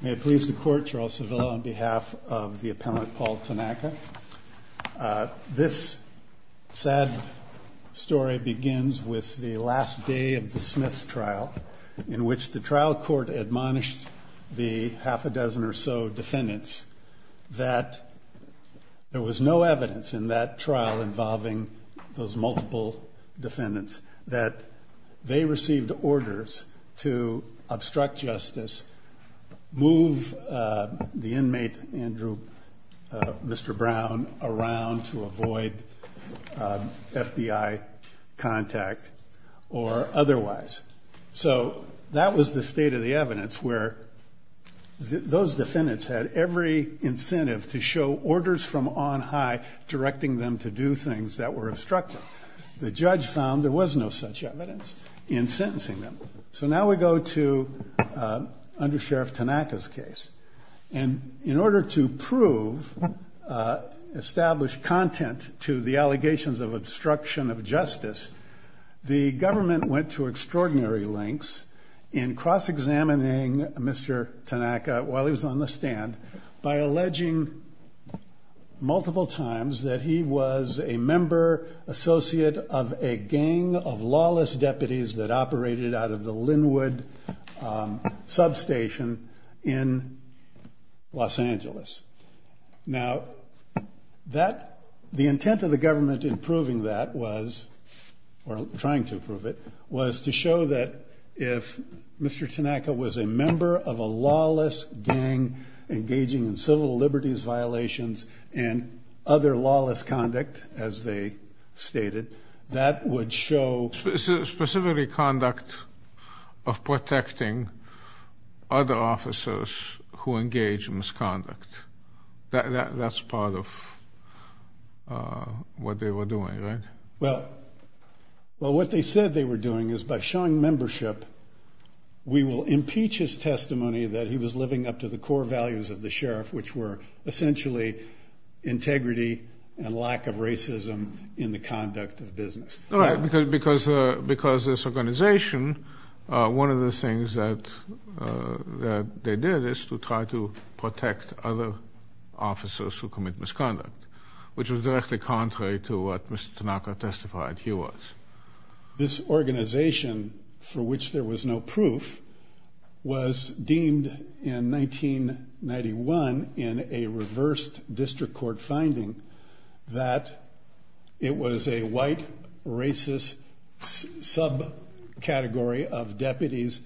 May it please the court, Gerald Sevilla on behalf of the appellant Paul Tanaka. This sad story begins with the last day of the Smith trial in which the trial court admonished the half a dozen or so defendants that there was no evidence in that trial involving those multiple defendants that they received orders to obstruct justice, move the inmate Andrew, Mr. Brown around to avoid FBI contact or otherwise. So that was the state of the evidence where those defendants had every incentive to show orders from on high directing them to do things that were obstructing. The judge found there was no such evidence in sentencing them. So now we go to under Sheriff Tanaka's case and in order to prove established content to the allegations of obstruction of justice, the government went to extraordinary lengths in cross-examining Mr. Tanaka while he was on the stand by alleging multiple times that he was a member associate of a gang of lawless deputies that operated out of the Linwood substation in Los Angeles. Now the intent of the government in proving that was, or trying to prove it, was to show that if Mr. Tanaka was a member of a lawless gang engaging in civil liberties violations and other lawless conduct as they stated, that would show specifically conduct of protecting other officers who engage in misconduct. That's part of what they were doing, right? Well, what they said they were doing is by showing membership, we will impeach his testimony that he was living up to the core values of the sheriff, which were essentially integrity and lack of racism in the conduct of business. Right, because this organization, one of the things that they did is to try to protect other officers who commit misconduct, which was directly contrary to what Mr. Tanaka testified he was. This organization for which there was no proof was deemed in 1991 in a reversed district court finding that it was a white racist subcategory of deputies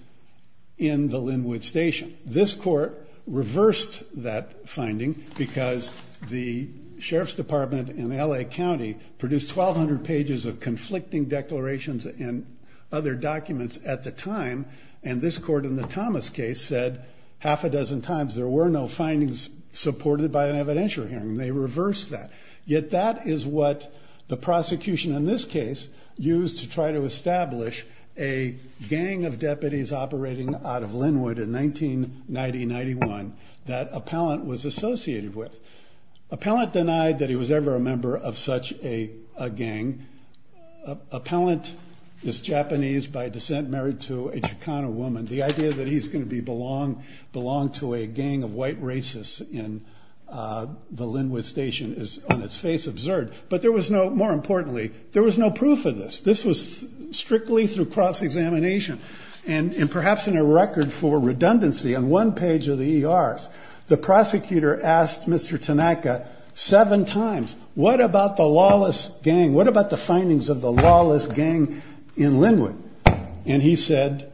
in the Linwood station. This court reversed that finding because the sheriff's department in LA County produced 1,200 pages of conflicting declarations and other documents at the time, and this court in the Thomas case said half a hearing, they reversed that. Yet that is what the prosecution in this case used to try to establish a gang of deputies operating out of Linwood in 1990-91 that Appellant was associated with. Appellant denied that he was ever a member of such a gang. Appellant is Japanese by descent, married to a Chicano woman. The idea that he's going to belong to a gang of white racists in the Linwood station is on its face absurd. But there was no, more importantly, there was no proof of this. This was strictly through cross-examination and perhaps in a record for redundancy on one page of the ERs, the prosecutor asked Mr. Tanaka seven times, what about the lawless gang? What about the findings of the lawless gang in Linwood? And he said,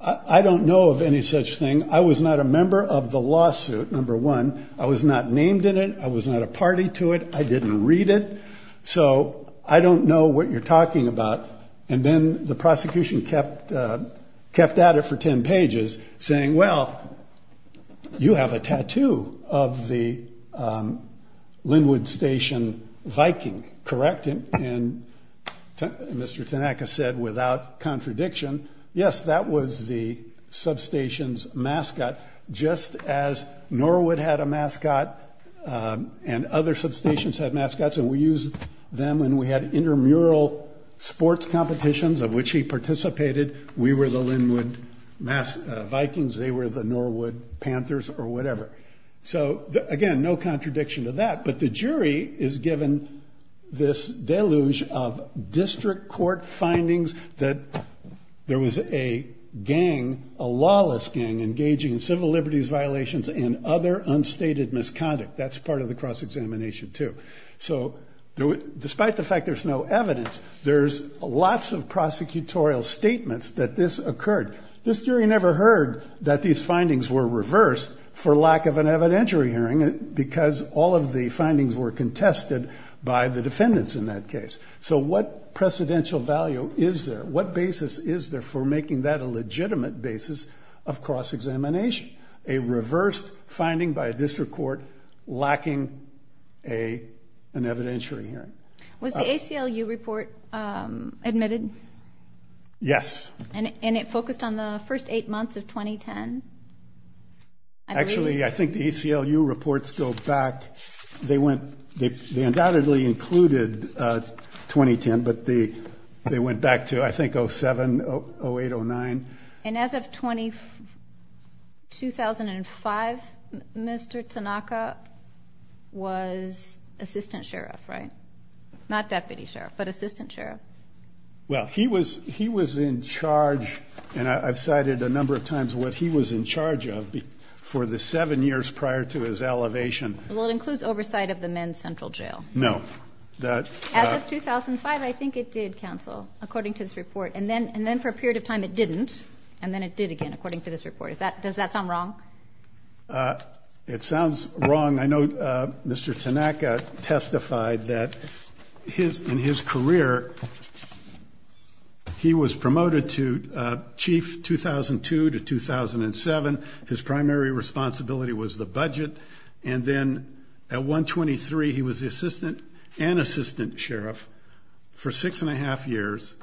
I don't know of any such thing. I was not a member of the lawsuit, number one. I was not named in it. I was not a party to it. I didn't read it. So I don't know what you're talking about. And then the prosecution kept out it for 10 pages saying, well, you have a tattoo of the Linwood station Viking, correct him. And Mr. Tanaka said, without contradiction, yes, that was the substations mascot, just as Norwood had a mascot and other substations had mascots and we use them. And we had intermural sports competitions of which he participated. We were the Linwood mass Vikings. They were the Norwood Panthers or whatever. So again, no contradiction to that. But the jury is given this deluge of district court findings that there was a gang, a lawless gang engaging in civil liberties violations and other unstated misconduct. That's part of the cross-examination too. So despite the fact there's no evidence, there's lots of prosecutorial statements that this occurred. This jury never heard that these findings were reversed for lack of an evidentiary hearing because all of the findings were contested by the defendants in that case. So what precedential value is there? What basis is there for making that a legitimate basis of cross-examination? A reversed finding by a district court lacking an evidentiary hearing. Was the ACLU report admitted? Yes. And it focused on the first eight months of 2010? Actually, I think the ACLU reports go back. They undoubtedly included 2010, but they went back to, I think, 07, 08, 09. And as of 2005, Mr. Tanaka was assistant sheriff, right? Not deputy sheriff, but assistant sheriff. Well, he was in charge, and I've cited a number of times what he was in charge of for the seven years prior to his elevation. Well, it includes oversight of the men's central jail. No. As of 2005, I think it did cancel, according to this report. And then for a period of time it didn't, and then it did again, according to this report. Does that sound wrong? It sounds wrong. I know Mr. Tanaka testified that in his career he was promoted to chief 2002 to 2007. His primary responsibility was the budget. And then at 123, he was assistant and assistant sheriff for six and a half years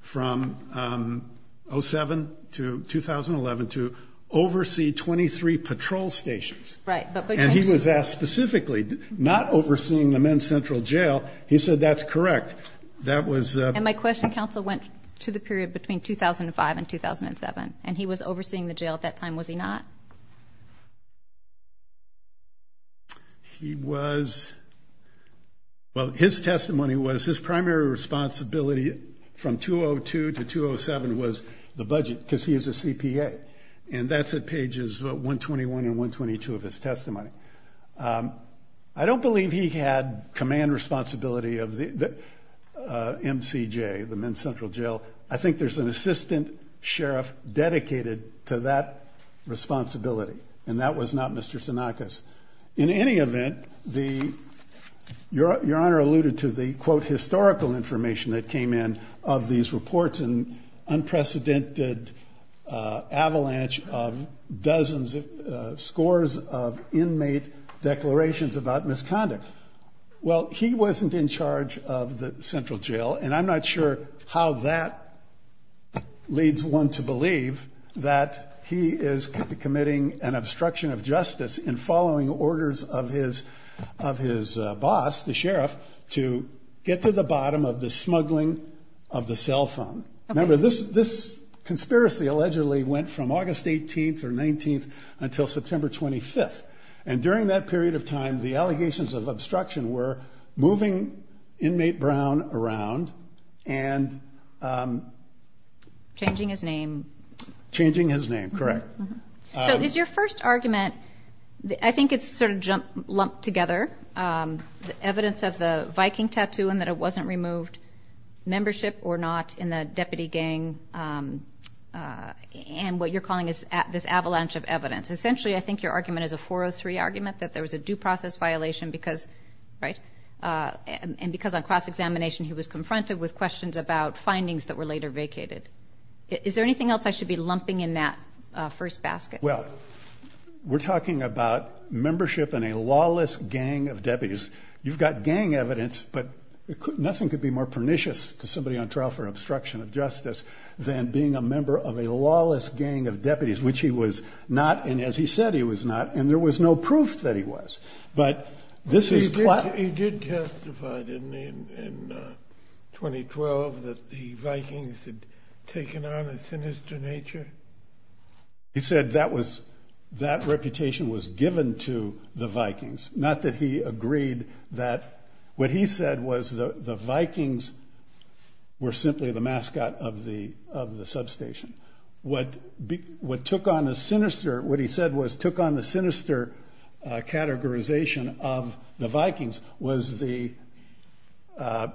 from 07 to 2011 to oversee 23 patrol stations. Right. And he was asked specifically, not overseeing the men's central jail, he said, that's correct. That was... And my question, counsel, went to the period between 2005 and 2007, and he was overseeing the jail at that time, was he not? He was... Well, his testimony was his primary responsibility from 202 to 207 was the budget, because he is a CPA. And that's at pages 121 and 122 of his testimony. I don't believe he had command responsibility of the MCJ, the men's responsibility. And that was not Mr. Tanaka's. In any event, the... Your honor alluded to the, quote, historical information that came in of these reports and unprecedented avalanche of dozens of scores of inmate declarations about misconduct. Well, he wasn't in charge of the central jail, and I'm not sure how that leads one to believe that he is committing an obstruction of justice in following orders of his boss, the sheriff, to get to the bottom of the smuggling of the cell phone. Remember, this conspiracy allegedly went from August 18th or 19th until September 25th. And during that period of time, the FBI and... Changing his name. Changing his name, correct. So is your first argument... I think it's sort of lumped together, the evidence of the Viking tattoo and that it wasn't removed, membership or not in the deputy gang, and what you're calling this avalanche of evidence. Essentially, I think your argument is a 403 argument that there was a due process violation because... And because on cross-examination, he was confronted with questions about findings that were later vacated. Is there anything else I should be lumping in that first basket? Well, we're talking about membership in a lawless gang of deputies. You've got gang evidence, but nothing could be more pernicious to somebody on trial for obstruction of justice than being a member of a lawless gang of deputies, which he was not. And as he said, he was not. And there was no proof that he was. But this is... He did testify, didn't he, in 2012 that the Vikings had taken on a sinister nature? He said that reputation was given to the Vikings. Not that he agreed that... What he said was the Vikings were simply the mascot of the categorization of the Vikings was the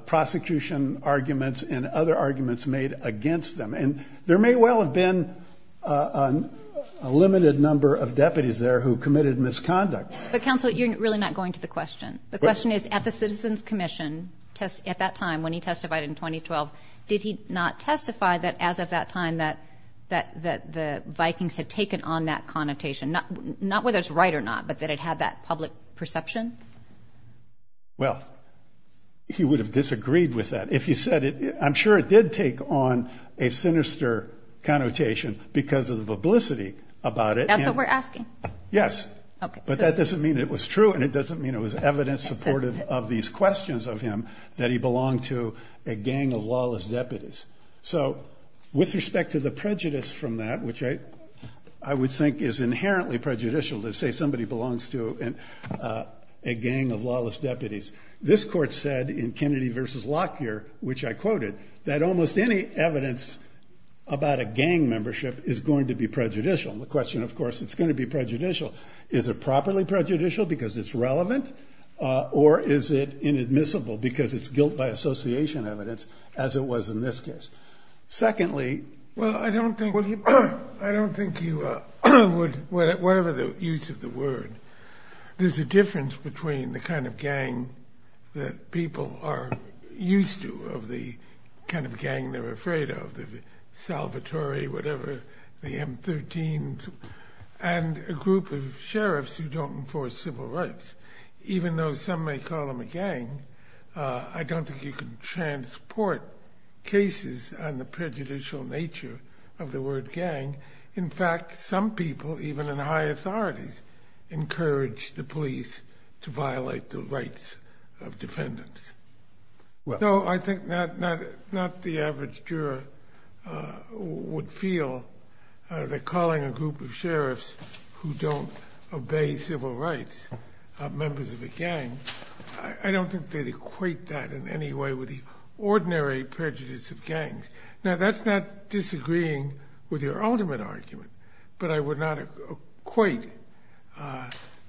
prosecution arguments and other arguments made against them. And there may well have been a limited number of deputies there who committed misconduct. But counsel, you're really not going to the question. The question is, at the Citizens Commission, at that time when he testified in 2012, did he not testify that as of that time that the Vikings had taken on that connotation? Not whether it's right or not, but that it had that public perception? Well, he would have disagreed with that if he said it. I'm sure it did take on a sinister connotation because of the publicity about it. That's what we're asking. Yes. But that doesn't mean it was true. And it doesn't mean it was evidence supportive of these questions of him that he belonged to a gang of lawless deputies. So with respect to the prejudice from that, which I would think is inherently prejudicial to say somebody belongs to a gang of lawless deputies. This court said in Kennedy versus Lockyer, which I quoted, that almost any evidence about a gang membership is going to be prejudicial. The question, of course, it's going to be prejudicial. Is it properly prejudicial because it's relevant or is it inadmissible because it's guilt by association evidence, as it was in this case? Secondly... Well, I don't think you would, whatever the use of the word, there's a difference between the kind of gang that people are used to of the kind of gang they're afraid of, the Salvatore, whatever, the M13s, and a group of sheriffs who don't enforce civil rights. Even though some may call them a gang, I don't think you can transport cases on the prejudicial nature of the word gang. In fact, some people, even in high authorities, encourage the police to violate the rights of defendants. So I think not the average juror would feel that calling a group of police members of a gang, I don't think they'd equate that in any way with the ordinary prejudice of gangs. Now, that's not disagreeing with your ultimate argument, but I would not equate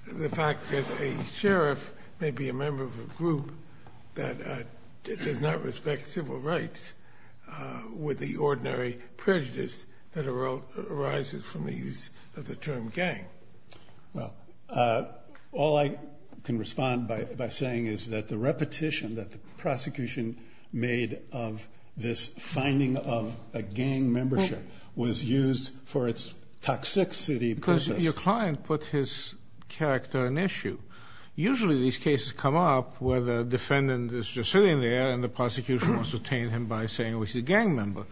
the fact that a sheriff may be a member of a group that does not respect civil rights with the ordinary prejudice that arises from the use of the term gang. Well, all I can respond by saying is that the repetition that the prosecution made of this finding of a gang membership was used for its toxicity purpose. Because your client put his character in issue. Usually these cases come up where the defendant is just sitting there and the prosecution has detained him by saying he's a gang member.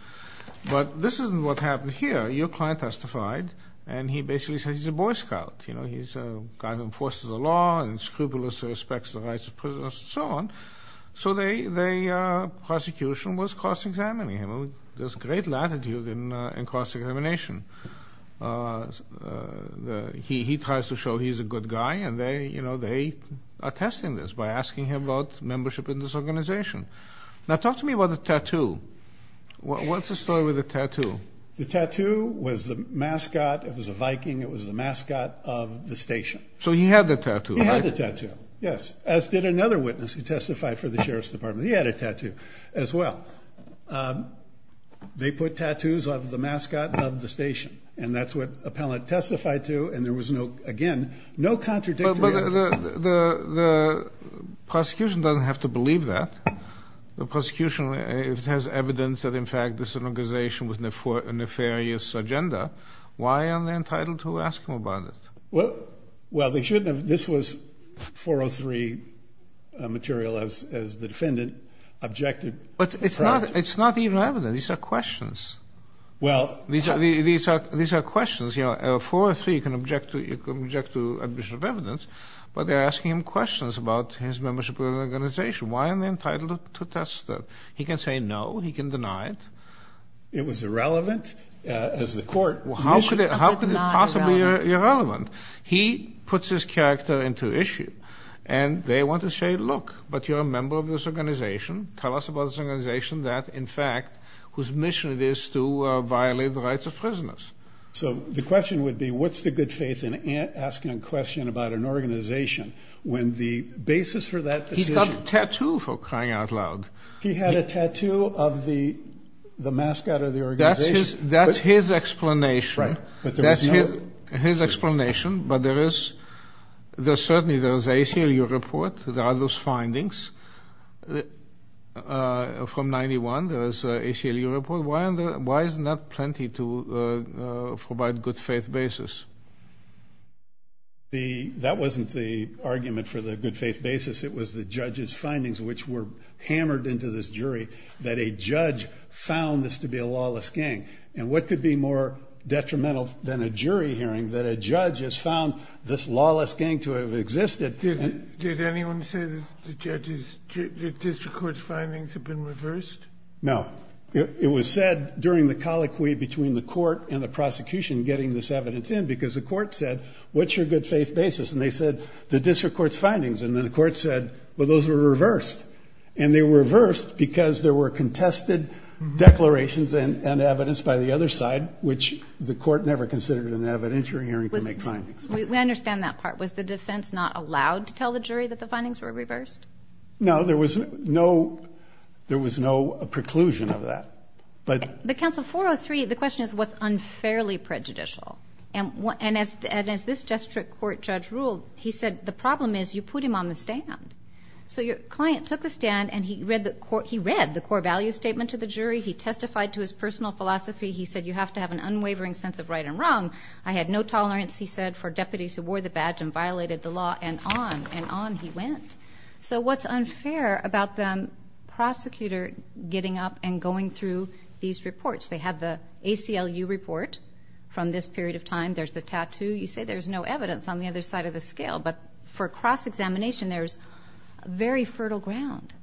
But this isn't what happened here. Your client testified and he basically said he's a Boy Scout. He's a guy who enforces the law and scrupulously respects the rights of prisoners and so on. So the prosecution was cross-examining him. There's great latitude in cross-examination. He tries to show he's a good guy and they are testing this by asking him about membership in this organization. Now, talk to me about the tattoo. What's the story with the tattoo? The tattoo was the mascot. It was a Viking. It was the mascot of the station. So he had the tattoo, right? He had the tattoo, yes. As did another witness who testified for the Sheriff's Department. He had a tattoo as well. They put tattoos of the mascot of the station and that's what appellant testified to and there was no, again, no contradictory evidence. But the prosecution doesn't have to believe that. The prosecution has evidence that in fact this is an organization with a nefarious agenda. Why are they entitled to ask him about it? Well, they shouldn't have. This was 403 material as the defendant objected. But it's not even evident. These are questions. These are questions. 403 can object to admission of evidence, but they're asking him questions about his membership in the organization. Why are they entitled to test that? He can say no. He can deny it. It was irrelevant as the court... How could it possibly be irrelevant? He puts his character into issue and they want to say, look, but you're a member of this organization. Tell us about this organization that in fact whose mission it is to violate the rights of prisoners. So the question would be what's the good faith in asking a question about an organization when the basis for that decision... He's got a tattoo for crying out loud. He had a tattoo of the mascot of the organization. That's his explanation. Right. That's his explanation, but there is... Certainly there is ACLU report. There are those findings. From 91, there is an ACLU report. Why isn't that plenty to provide good faith basis? That wasn't the argument for the good faith basis. It was the judge's findings which were hammered into this jury that a judge found this to be a lawless gang. What could be more detrimental than a jury hearing that a judge has found this lawless gang to have existed? Did anyone say that the district court's findings have been reversed? No. It was said during the colloquy between the court and the prosecution getting this evidence in because the court said, what's your good faith basis? They said, the district court's findings. Then the court said, well, those were reversed. They reversed because there were contested declarations and evidence by the other side, which the court never considered an evidentiary hearing to make findings. We understand that part. Was the defense not allowed to tell the jury that the findings were reversed? No. There was no preclusion of that. But, counsel, 403, the question is what's unfairly prejudicial. As this district court judge ruled, he said, the problem is you put him on the stand. So your client took the stand and he read the core value statement to the jury. He testified to his personal philosophy. He said, you have to have an unwavering sense of right and wrong. I had no tolerance, he said, for deputies who wore the badge and violated the law and on and on he went. So what's unfair about the prosecutor getting up and going through these reports? They had the ACLU report from this period of time. There's the tattoo. You say there's no evidence on the other side of the scale. But for cross-examination, there's very fertile ground.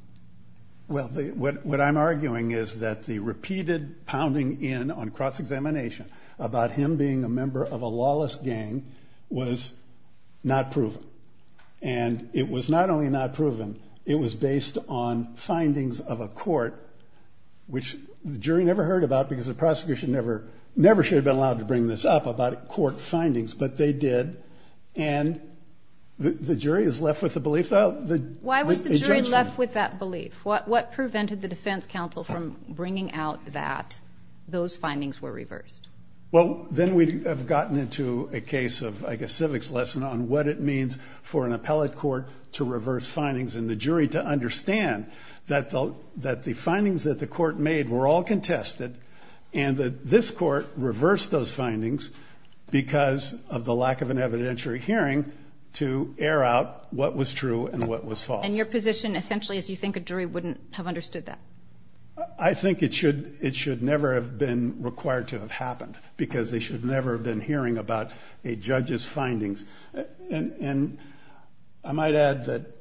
Well, what I'm arguing is that the repeated pounding in on cross-examination about him being a member of a lawless gang was not proven. And it was not only not proven, it was based on findings of a court, which the jury never heard about because the prosecution never should have been allowed to bring this up about court findings, but they did. And the jury is left with the belief, though. Why was the jury left with that belief? What prevented the defense counsel from bringing out that those findings were reversed? Well, then we have gotten into a case of, I guess, civics lesson on what it means for an appellate court to reverse findings and the jury to understand that the findings that the court made were all contested and that this court reversed those findings because of the lack of an evidentiary hearing to air out what was true and what was false. And your position, essentially, is you think a jury wouldn't have understood that? I think it should never have been required to have happened because they should never have been hearing about a judge's findings. And I might add that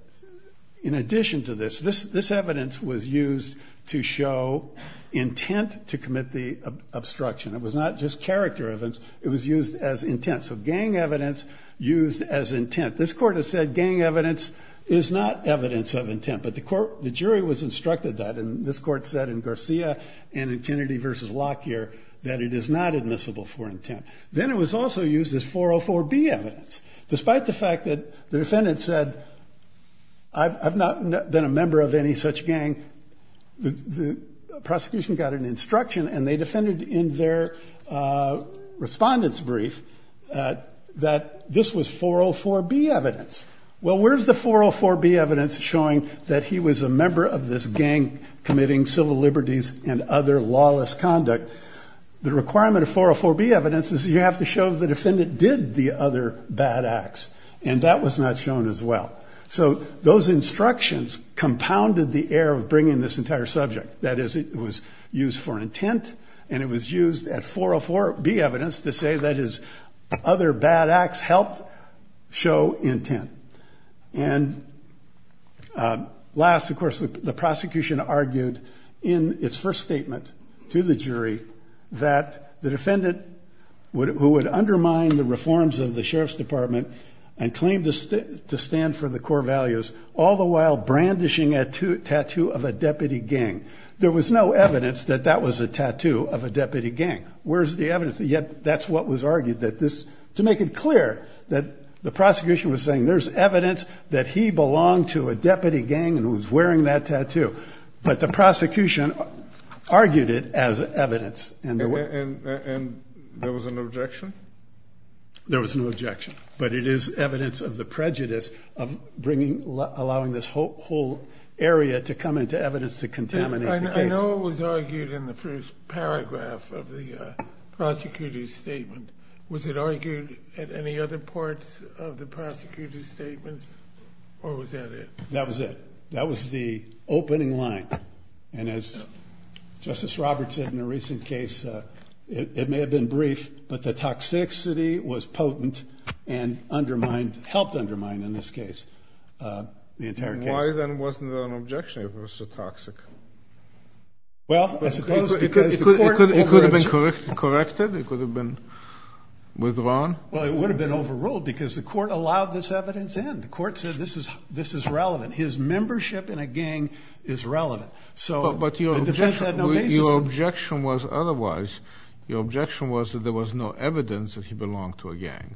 in this case, it was used to show intent to commit the obstruction. It was not just character evidence. It was used as intent. So gang evidence used as intent. This court has said gang evidence is not evidence of intent, but the jury was instructed that. And this court said in Garcia and in Kennedy v. Lockyer that it is not admissible for intent. Then it was also used as 404B evidence. Despite the fact that the defendant said, I've not been a member of any such gang, the prosecution got an instruction and they defended in their respondent's brief that this was 404B evidence. Well, where's the 404B evidence showing that he was a member of this gang committing civil liberties and other lawless conduct? The And that was not shown as well. So those instructions compounded the air of bringing this entire subject. That is, it was used for intent and it was used at 404B evidence to say that his other bad acts helped show intent. And last, of course, the prosecution argued in its first statement to the jury that the and claimed to stand for the core values, all the while brandishing a tattoo of a deputy gang. There was no evidence that that was a tattoo of a deputy gang. Where's the evidence? Yet that's what was argued that this, to make it clear that the prosecution was saying there's evidence that he belonged to a deputy gang and was wearing that tattoo. But the prosecution argued it as evidence. And there was an objection? There was no objection. But it is evidence of the prejudice of bringing, allowing this whole area to come into evidence to contaminate the case. I know it was argued in the first paragraph of the prosecutor's statement. Was it argued at any other parts of the prosecutor's statements or was that it? That was it. That was the opening line. And as Justice Roberts said in a recent case, it may have been brief, but the toxicity was potent and undermined, helped undermine in this case, the entire case. Why then wasn't there an objection if it was so toxic? Well, I suppose because the court overruled. It could have been corrected. It could have been withdrawn. Well, it would have been overruled because the court allowed this evidence in. The court said this is relevant. His objection was otherwise. The objection was that there was no evidence that he belonged to a gang.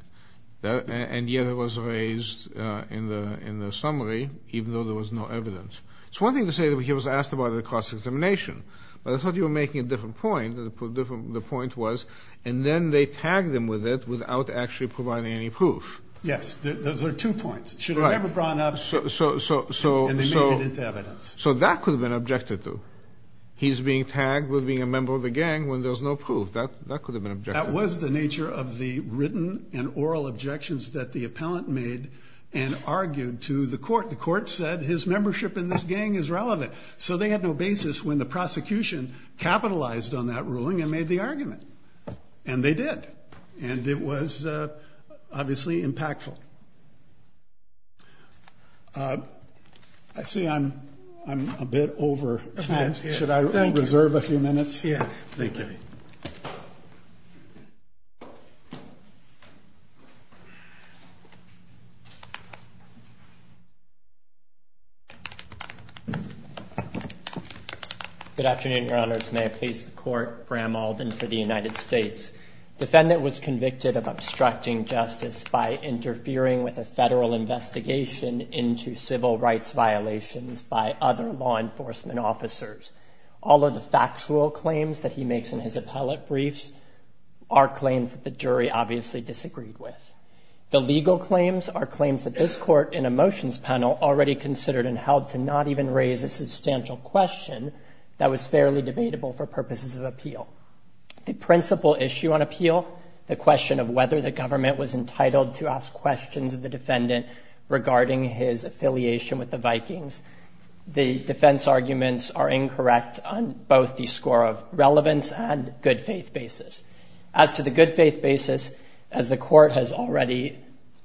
And yet it was raised in the summary even though there was no evidence. It's one thing to say that he was asked about it across examination. But I thought you were making a different point. The point was, and then they tagged him with it without actually providing any proof. Yes. Those are two points. Should have brought it up and made it into evidence. So that could have been objected to. He's being tagged with being a member of the gang when there's no proof. That could have been objected to. That was the nature of the written and oral objections that the appellant made and argued to the court. The court said his membership in this gang is relevant. So they had no basis when the prosecution capitalized on that ruling and made the argument. And they did. And it was Should I reserve a few minutes? Yes. Thank you. Good afternoon, Your Honors. May I please the court, Graham Alden for the United States. Defendant was convicted of obstructing justice by interfering with a All of the factual claims that he makes in his appellate briefs are claims that the jury obviously disagreed with. The legal claims are claims that this court in a motions panel already considered and held to not even raise a substantial question that was fairly debatable for purposes of appeal. The principal issue on appeal, the question of whether the government was entitled to ask questions of the defendant regarding his affiliation with the Vikings. The defense arguments are incorrect on both the score of relevance and good faith basis. As to the good faith basis, as the court has already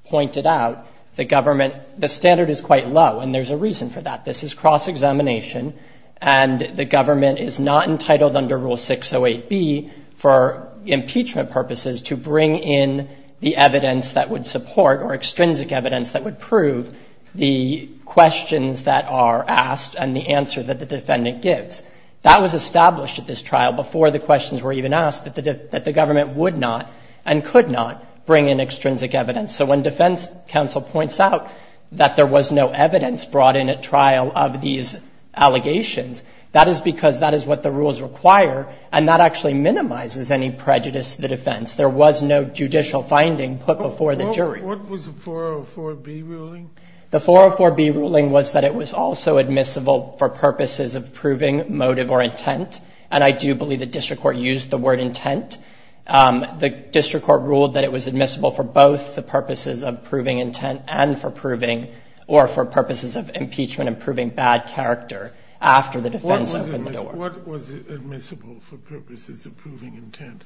pointed out, the government, the standard is quite low. And there's a reason for that. This is cross examination. And the government is not entitled under Rule 608B for impeachment purposes to bring in the evidence that would support or extrinsic evidence that would prove the questions that are asked and the answer that the defendant gives. That was established at this trial before the questions were even asked that the government would not and could not bring in extrinsic evidence. So when defense counsel points out that there was no evidence brought in at trial of these allegations, that is because that is what the rules require, and that actually minimizes any prejudice to the defense. There was no judicial finding put before the jury. What was the 404B ruling? The 404B ruling was that it was also admissible for purposes of proving motive or intent. And I do believe the district court used the word intent. The district court ruled that it was admissible for both the purposes of proving intent and for proving, or for purposes of impeachment and proving bad character after the defense opened the door. What was admissible for purposes of proving intent?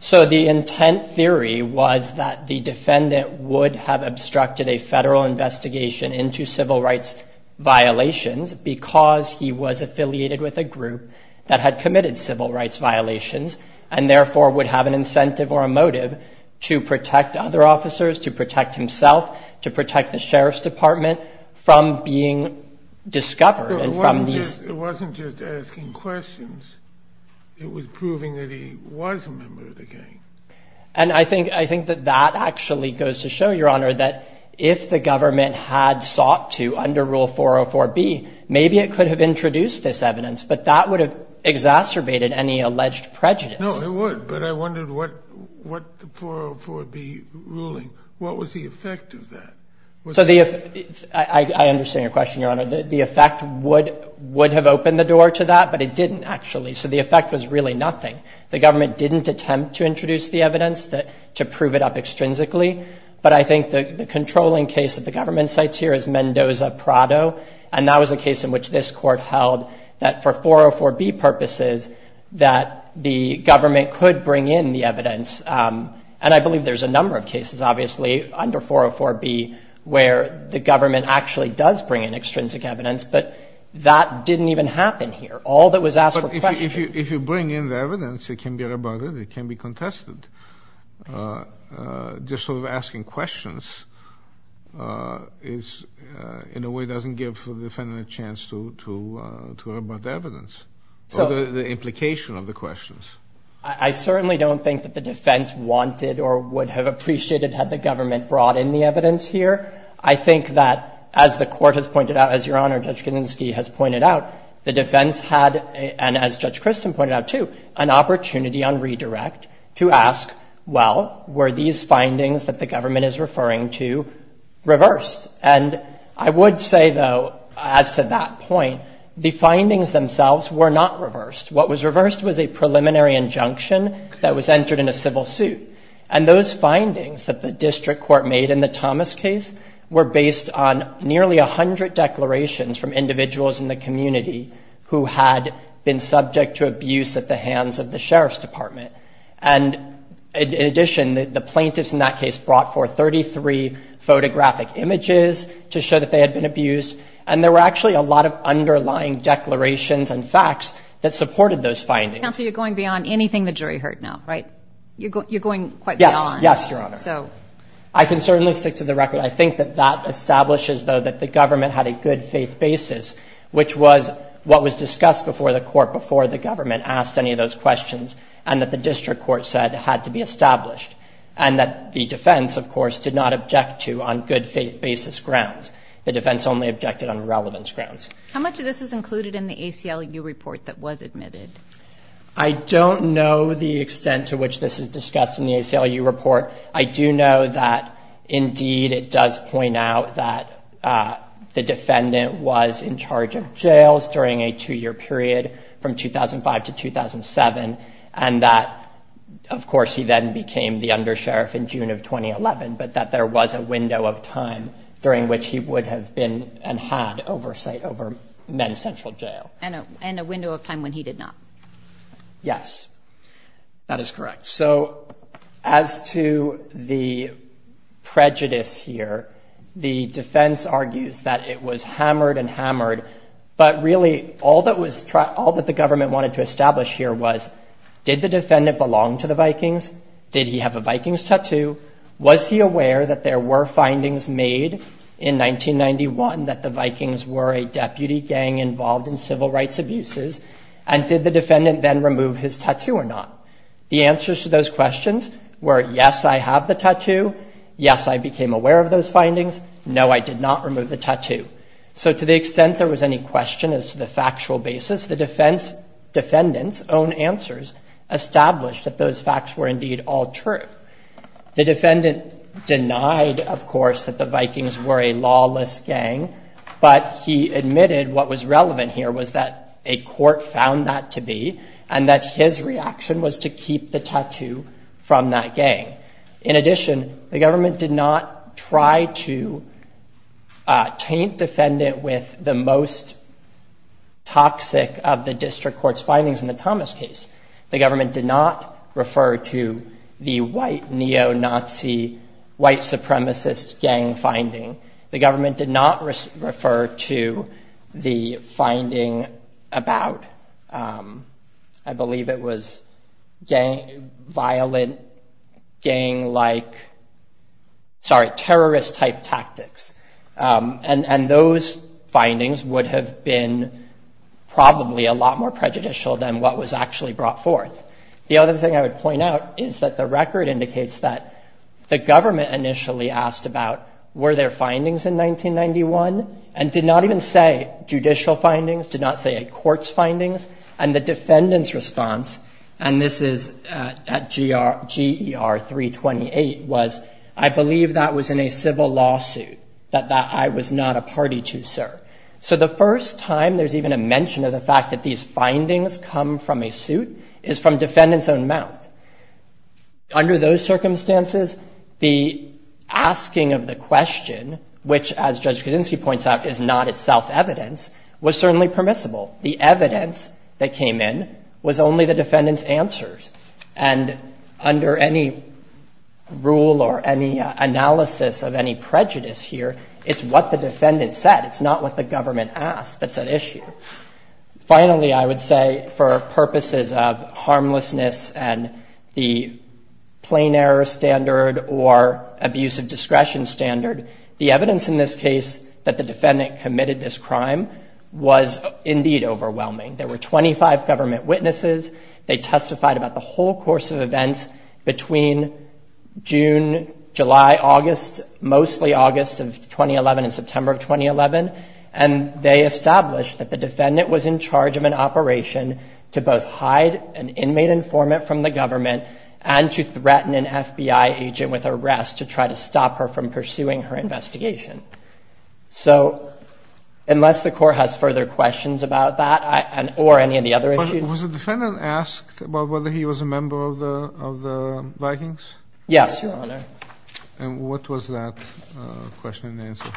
So the intent theory was that the defendant would have obstructed a federal investigation into civil rights violations because he was affiliated with a group that had committed civil rights violations and therefore would have an incentive or a motive to protect other officers, to protect himself, to protect the sheriff's department from being discovered and from these... It was proving that he was a member of the gang. And I think that that actually goes to show, Your Honor, that if the government had sought to, under Rule 404B, maybe it could have introduced this evidence, but that would have exacerbated any alleged prejudice. No, it would, but I wondered what the 404B ruling, what was the effect of that? So the effect... I understand your question, Your Honor. The effect would have opened the door to that, but it didn't actually. So the effect was really nothing. The government didn't attempt to introduce the evidence to prove it up extrinsically, but I think the controlling case that the government cites here is Mendoza-Prado, and that was a case in which this court held that for 404B purposes, that the government could bring in the evidence. And I believe there's a number of cases, obviously, under 404B, where the all that was asked were questions. But if you bring in the evidence, it can be rebutted, it can be contested. Just sort of asking questions is, in a way, doesn't give the defendant a chance to rebut the evidence or the implication of the questions. I certainly don't think that the defense wanted or would have appreciated had the government brought in the evidence here. I think that, as the Court has pointed out, as Your Honor, Judge Kaczynski has pointed out, the defense had, and as Judge Christin pointed out, too, an opportunity on redirect to ask, well, were these findings that the government is referring to reversed? And I would say, though, as to that point, the findings themselves were not reversed. What was reversed was a preliminary injunction that was entered in a civil suit. And those findings that the district court made in the Thomas case were based on nearly 100 declarations from individuals in the community who had been subject to abuse at the hands of the Sheriff's Department. And in addition, the plaintiffs in that case brought forth 33 photographic images to show that they had been abused. And there were actually a lot of underlying declarations and facts that supported those findings. Counsel, you're going beyond anything the jury heard now, right? You're going quite beyond. Yes. Yes, Your Honor. I can certainly stick to the record. I think that that establishes, though, that the government had a good faith basis, which was what was discussed before the court, before the government asked any of those questions, and that the district court said had to be established. And that the defense, of course, did not object to on good faith basis grounds. The defense only objected on relevance grounds. How much of this is included in the ACLU report that was admitted? I don't know the extent to which this is discussed in the ACLU report. I do know that, indeed, it does point out that the defendant was in charge of jails during a two-year period from 2005 to 2007, and that, of course, he then became the undersheriff in June of 2011, but that there was a window of time during which he would have been and had oversight over Men's Central Jail. And a window of time when he did not. Yes. That is correct. So, as to the prejudice here, the defense argues that it was hammered and hammered, but really, all that the government wanted to establish here was, did the defendant belong to the Vikings? Did he have a Vikings tattoo? Was he aware that there were findings made in 1991 that the Vikings were involved in civil rights abuses? And did the defendant then remove his tattoo or not? The answers to those questions were, yes, I have the tattoo. Yes, I became aware of those findings. No, I did not remove the tattoo. So, to the extent there was any question as to the factual basis, the defendant's own answers established that those facts were, indeed, all true. The defendant denied, of course, that the Vikings were a lawless gang, but he admitted what was true, that a court found that to be, and that his reaction was to keep the tattoo from that gang. In addition, the government did not try to taint the defendant with the most toxic of the district court's findings in the Thomas case. The government did not refer to the white neo-Nazi, white supremacist gang finding. The government did not refer to the finding about, I believe it was gang, violent gang-like, sorry, terrorist-type tactics. And those findings would have been probably a lot more prejudicial than what was actually brought forth. The other thing I would point out is that the record indicates that the government initially asked about, were there findings in 1991, and did not even say judicial findings, did not say a court's findings. And the defendant's response, and this is at GER 328, was, I believe that was in a civil lawsuit, that I was not a party to, sir. So, the first time there's even a mention of the fact that these findings come from a suit is from defendant's own mouth. Under those circumstances, the asking of the question, which, as Judge Kaczynski points out, is not itself evidence, was certainly permissible. The evidence that came in was only the defendant's answers. And under any rule or any analysis of any prejudice here, it's what the defendant said. It's not what the government asked that's at issue. Finally, I would say, for purposes of harmlessness and the plain error standard or abuse of discretion standard, the evidence in this case that the defendant committed this crime was indeed overwhelming. There were 25 government witnesses. They testified about the whole course of events between June, July, August, mostly August of 2011 and September of 2011. And they established that the defendant was in charge of an inmate informant from the government, and to threaten an FBI agent with arrest to try to stop her from pursuing her investigation. So, unless the Court has further questions about that, or any of the other issues? Was the defendant asked about whether he was a member of the Vikings? Yes, Your Honor. And what was that question and answer?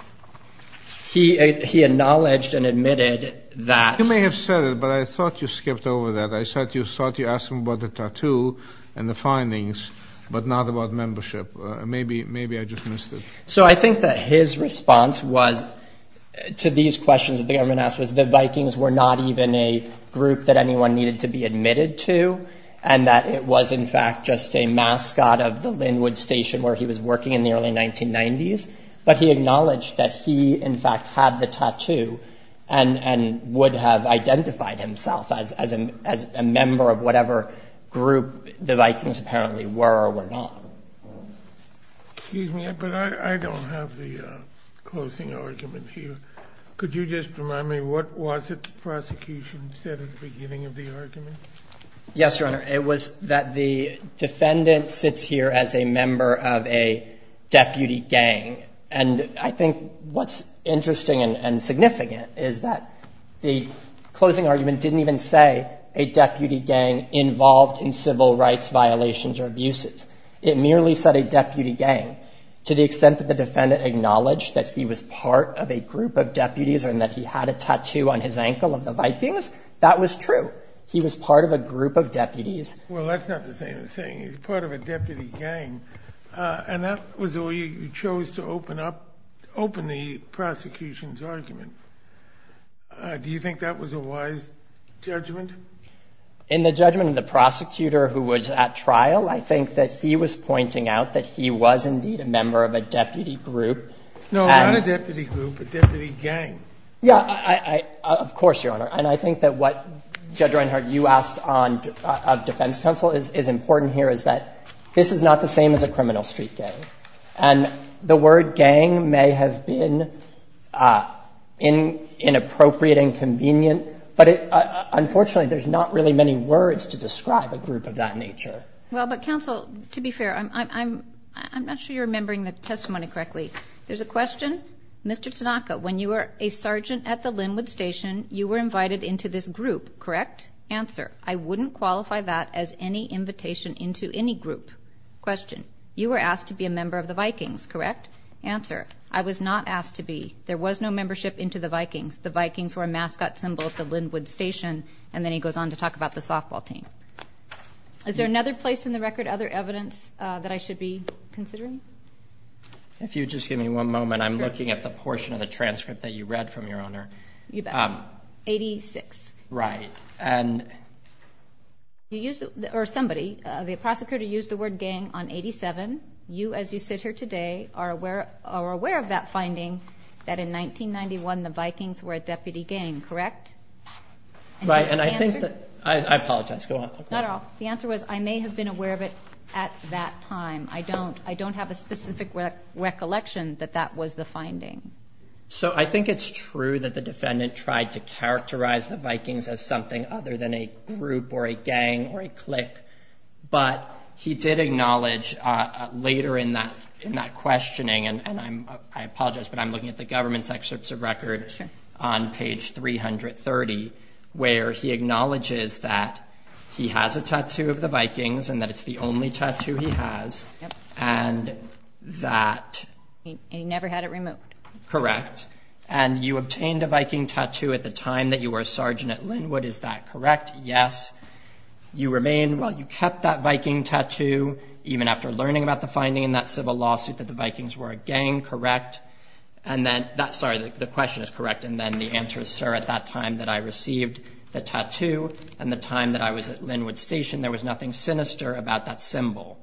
He acknowledged and admitted that... You may have said it, but I thought you skipped over that. I thought you asked him about the tattoo and the findings, but not about membership. Maybe I just missed it. So, I think that his response was, to these questions that the government asked, was that the Vikings were not even a group that anyone needed to be admitted to, and that it was, in fact, just a mascot of the Linwood Station where he was working in the early 1990s. But he acknowledged that he, in fact, had the tattoo, and would have identified himself as a member of whatever group the Vikings apparently were or were not. Excuse me, but I don't have the closing argument here. Could you just remind me, what was it the prosecution said at the beginning of the argument? Yes, Your Honor. It was that the defendant sits here as a member of a deputy gang. And I think what's interesting and significant is that the closing argument didn't even say a deputy gang involved in civil rights violations or abuses. It merely said a deputy gang. To the extent that the defendant acknowledged that he was part of a group of deputies and that he had a tattoo on his ankle of the Vikings, that was true. He was part of a group of deputies. Well, that's not the same thing. He's part of a deputy gang. And that was all you chose to open up, open the prosecution's argument. Do you think that was a wise judgment? In the judgment of the prosecutor who was at trial, I think that he was pointing out that he was indeed a member of a deputy group. No, not a deputy group, a deputy gang. Yeah, of course, Your Honor. And I think that what, Judge Reinhardt, you asked of defense counsel is important here is that this is not the same as a criminal street gang. And the word gang may have been inappropriate and convenient, but unfortunately, there's not really many words to describe a group of that nature. Well, but counsel, to be fair, I'm not sure you're remembering the testimony correctly. There's a question. Mr. Tanaka, when you were a sergeant at the Linwood Station, you were invited into this group, correct? Answer, I wouldn't qualify that as any invitation into any group. Question, you were asked to be a member of the Vikings, correct? Answer, I was not asked to be. There was no membership into the Vikings. The Vikings were a mascot symbol at the Linwood Station. And then he goes on to talk about the softball team. Is there another place in the record, other evidence that I should be considering? If you would just give me one moment, I'm looking at the portion of the transcript that you read from, Your Honor. You bet. 86. Right. And... You used, or somebody, the prosecutor used the word gang on 87. You, as you sit here today, are aware of that finding that in 1991, the Vikings were a deputy gang, correct? Right. And I think that, I apologize, go on. Not at all. The answer was, I may have been aware of it at that time. I don't have a specific recollection that that was the finding. So I think it's true that the defendant tried to characterize the Vikings as something other than a group or a gang or a clique. But he did acknowledge later in that questioning, and I apologize, but I'm looking at the government's excerpts of record on page 330, where he acknowledges that he has a tattoo of the Vikings, and that it's the only tattoo he has, and that... And he never had it removed. Correct. And you obtained a Viking tattoo at the time that you were a sergeant at Linwood, is that correct? Yes. You remain, well, you kept that Viking tattoo even after learning about the finding in that civil lawsuit that the Vikings were a gang, correct? And then, sorry, the question is correct, and then the answer is, sir, at that time that I received the tattoo and the time that I was at Linwood Station, there was nothing sinister about that symbol.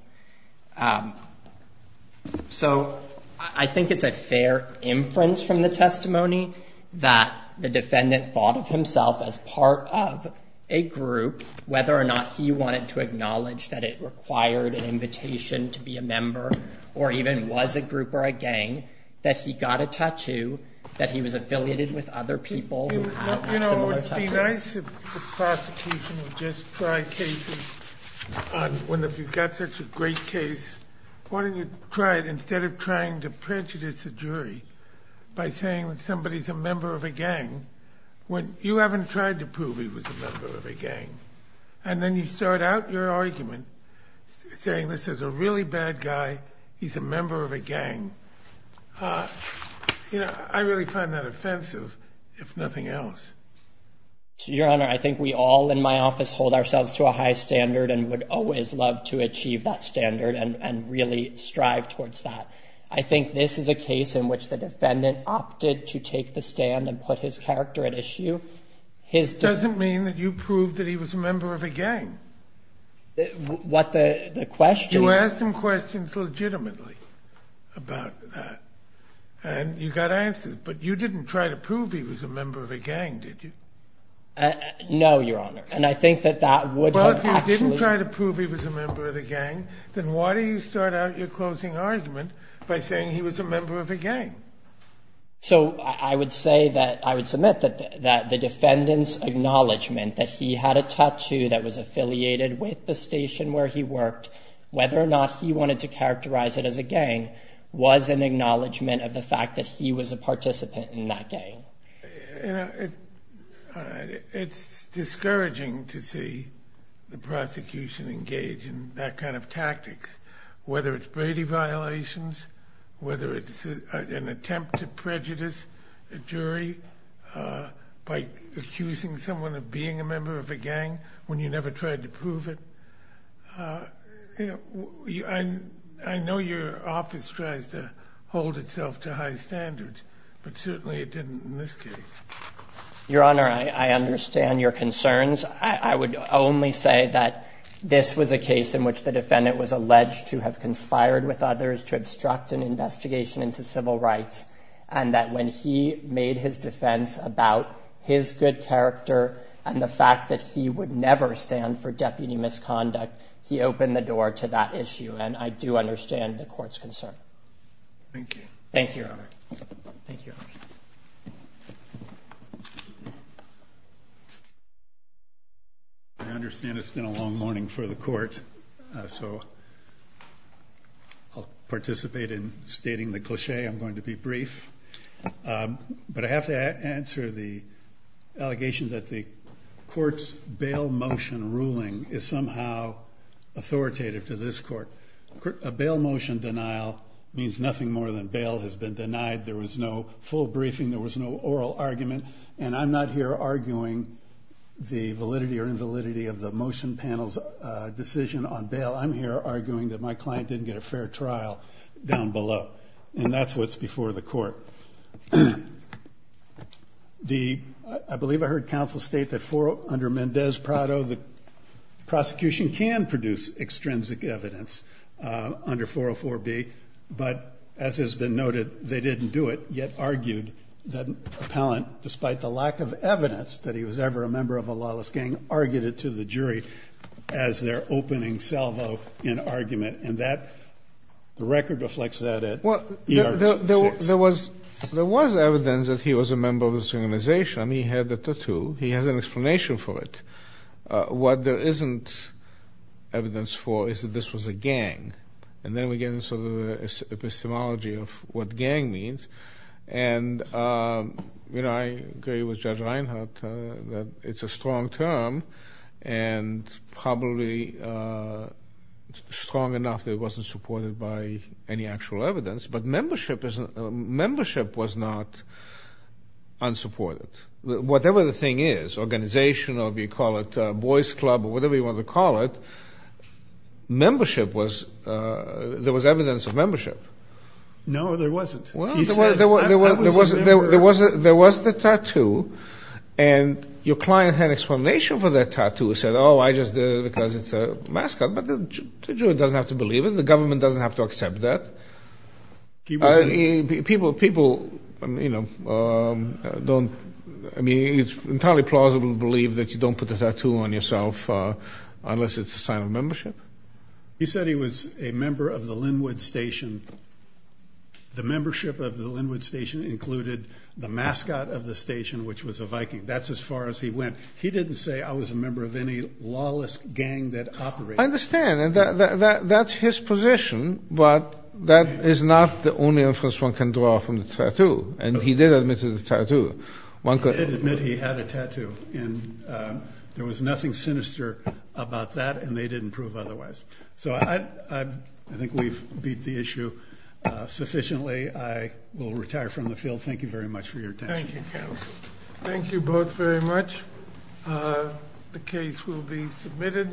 So I think it's a fair inference from the testimony that the defendant thought of himself as part of a group, whether or not he wanted to acknowledge that it required an invitation to be a member or even was a group or a gang, that he got a tattoo, that he was affiliated with other people who had similar tattoos. It would be nice if the prosecution would just try cases on, if you've got such a great case, why don't you try it instead of trying to prejudice a jury by saying that somebody's a member of a gang, when you haven't tried to prove he was a member of a gang, and then you start out your argument saying this is a really bad guy, he's a member of a gang. I really find that offensive, if nothing else. Your Honor, I think we all in my office hold ourselves to a high standard and would always love to achieve that standard and really strive towards that. I think this is a case in which the defendant opted to take the stand and put his character at issue. It doesn't mean that you proved that he was a member of a gang. What the question is... You asked him questions legitimately about that, and you got answers, but you didn't try to prove he was a member of a gang, did you? No, Your Honor, and I think that that would have actually... Well, if you didn't try to prove he was a member of a gang, then why do you start out your closing argument by saying he was a member of a gang? I would submit that the defendant's acknowledgement that he had a tattoo that was affiliated with the station where he worked, whether or not he wanted to characterize it as a gang, was an acknowledgement of the fact that he was a member of that gang. It's discouraging to see the prosecution engage in that kind of tactics, whether it's Brady violations, whether it's an attempt to prejudice a jury by accusing someone of being a member of a gang when you never tried to prove it. I know your Your Honor, I understand your concerns. I would only say that this was a case in which the defendant was alleged to have conspired with others to obstruct an investigation into civil rights, and that when he made his defense about his good character and the fact that he would never stand for deputy misconduct, he opened the door to that issue, and I do understand the court's concern. Thank you. Thank you, Your Honor. I understand it's been a long morning for the court, so I'll participate in stating the cliché. I'm going to be brief, but I have to answer the allegation that the court's bail motion ruling is somehow authoritative to this court. A bail motion denial means nothing more than bail has been denied. There was no full briefing. There was no oral argument, and I'm not here arguing the validity or invalidity of the motion panel's decision on bail. I'm here arguing that my client didn't get a fair trial down below, and that's what's before the court. I believe I heard counsel state that under Mendez-Prado, the prosecution can produce extrinsic evidence under 404B, but as has been noted, they didn't do it, yet argued that Appellant, despite the lack of evidence that he was ever a member of a lawless gang, argued it to the jury as their opening salvo in argument, and the record reflects that at ER 26. There was evidence that he was a member of this organization. He had the tattoo. He has an explanation for it. What there isn't evidence for is that this was a gang, and then we get into the epistemology of what gang means, and I agree with Judge Reinhart that it's a strong term, and probably strong enough that it wasn't supported by any actual evidence, but membership was not unsupported. Whatever the thing is, organization, or if you call it a boys club, or whatever you want to call it, membership was, there was evidence of membership. No, there wasn't. He said, I was a member. There was the tattoo, and your client had an explanation for that tattoo, said, oh, I just did it because it's a mascot, but the jury doesn't have to believe it. The government doesn't have to accept that. People don't, I mean, it's entirely plausible to believe that you don't put a tattoo on yourself unless it's a sign of membership. He said he was a member of the Linwood Station. The membership of the Linwood Station included the mascot of the station, which was a Viking. That's as far as he went. He didn't say, I was a member of any lawless gang that operated. I understand, and that's his position, but that is not the only inference one can draw from the tattoo, and he did admit to the tattoo. He did admit he had a tattoo, and there was nothing sinister about that, and they didn't prove otherwise. I think we've beat the issue sufficiently. I will retire from the field. Thank you very much for your attention. Thank you, counsel. Thank you both very much. The case will be submitted.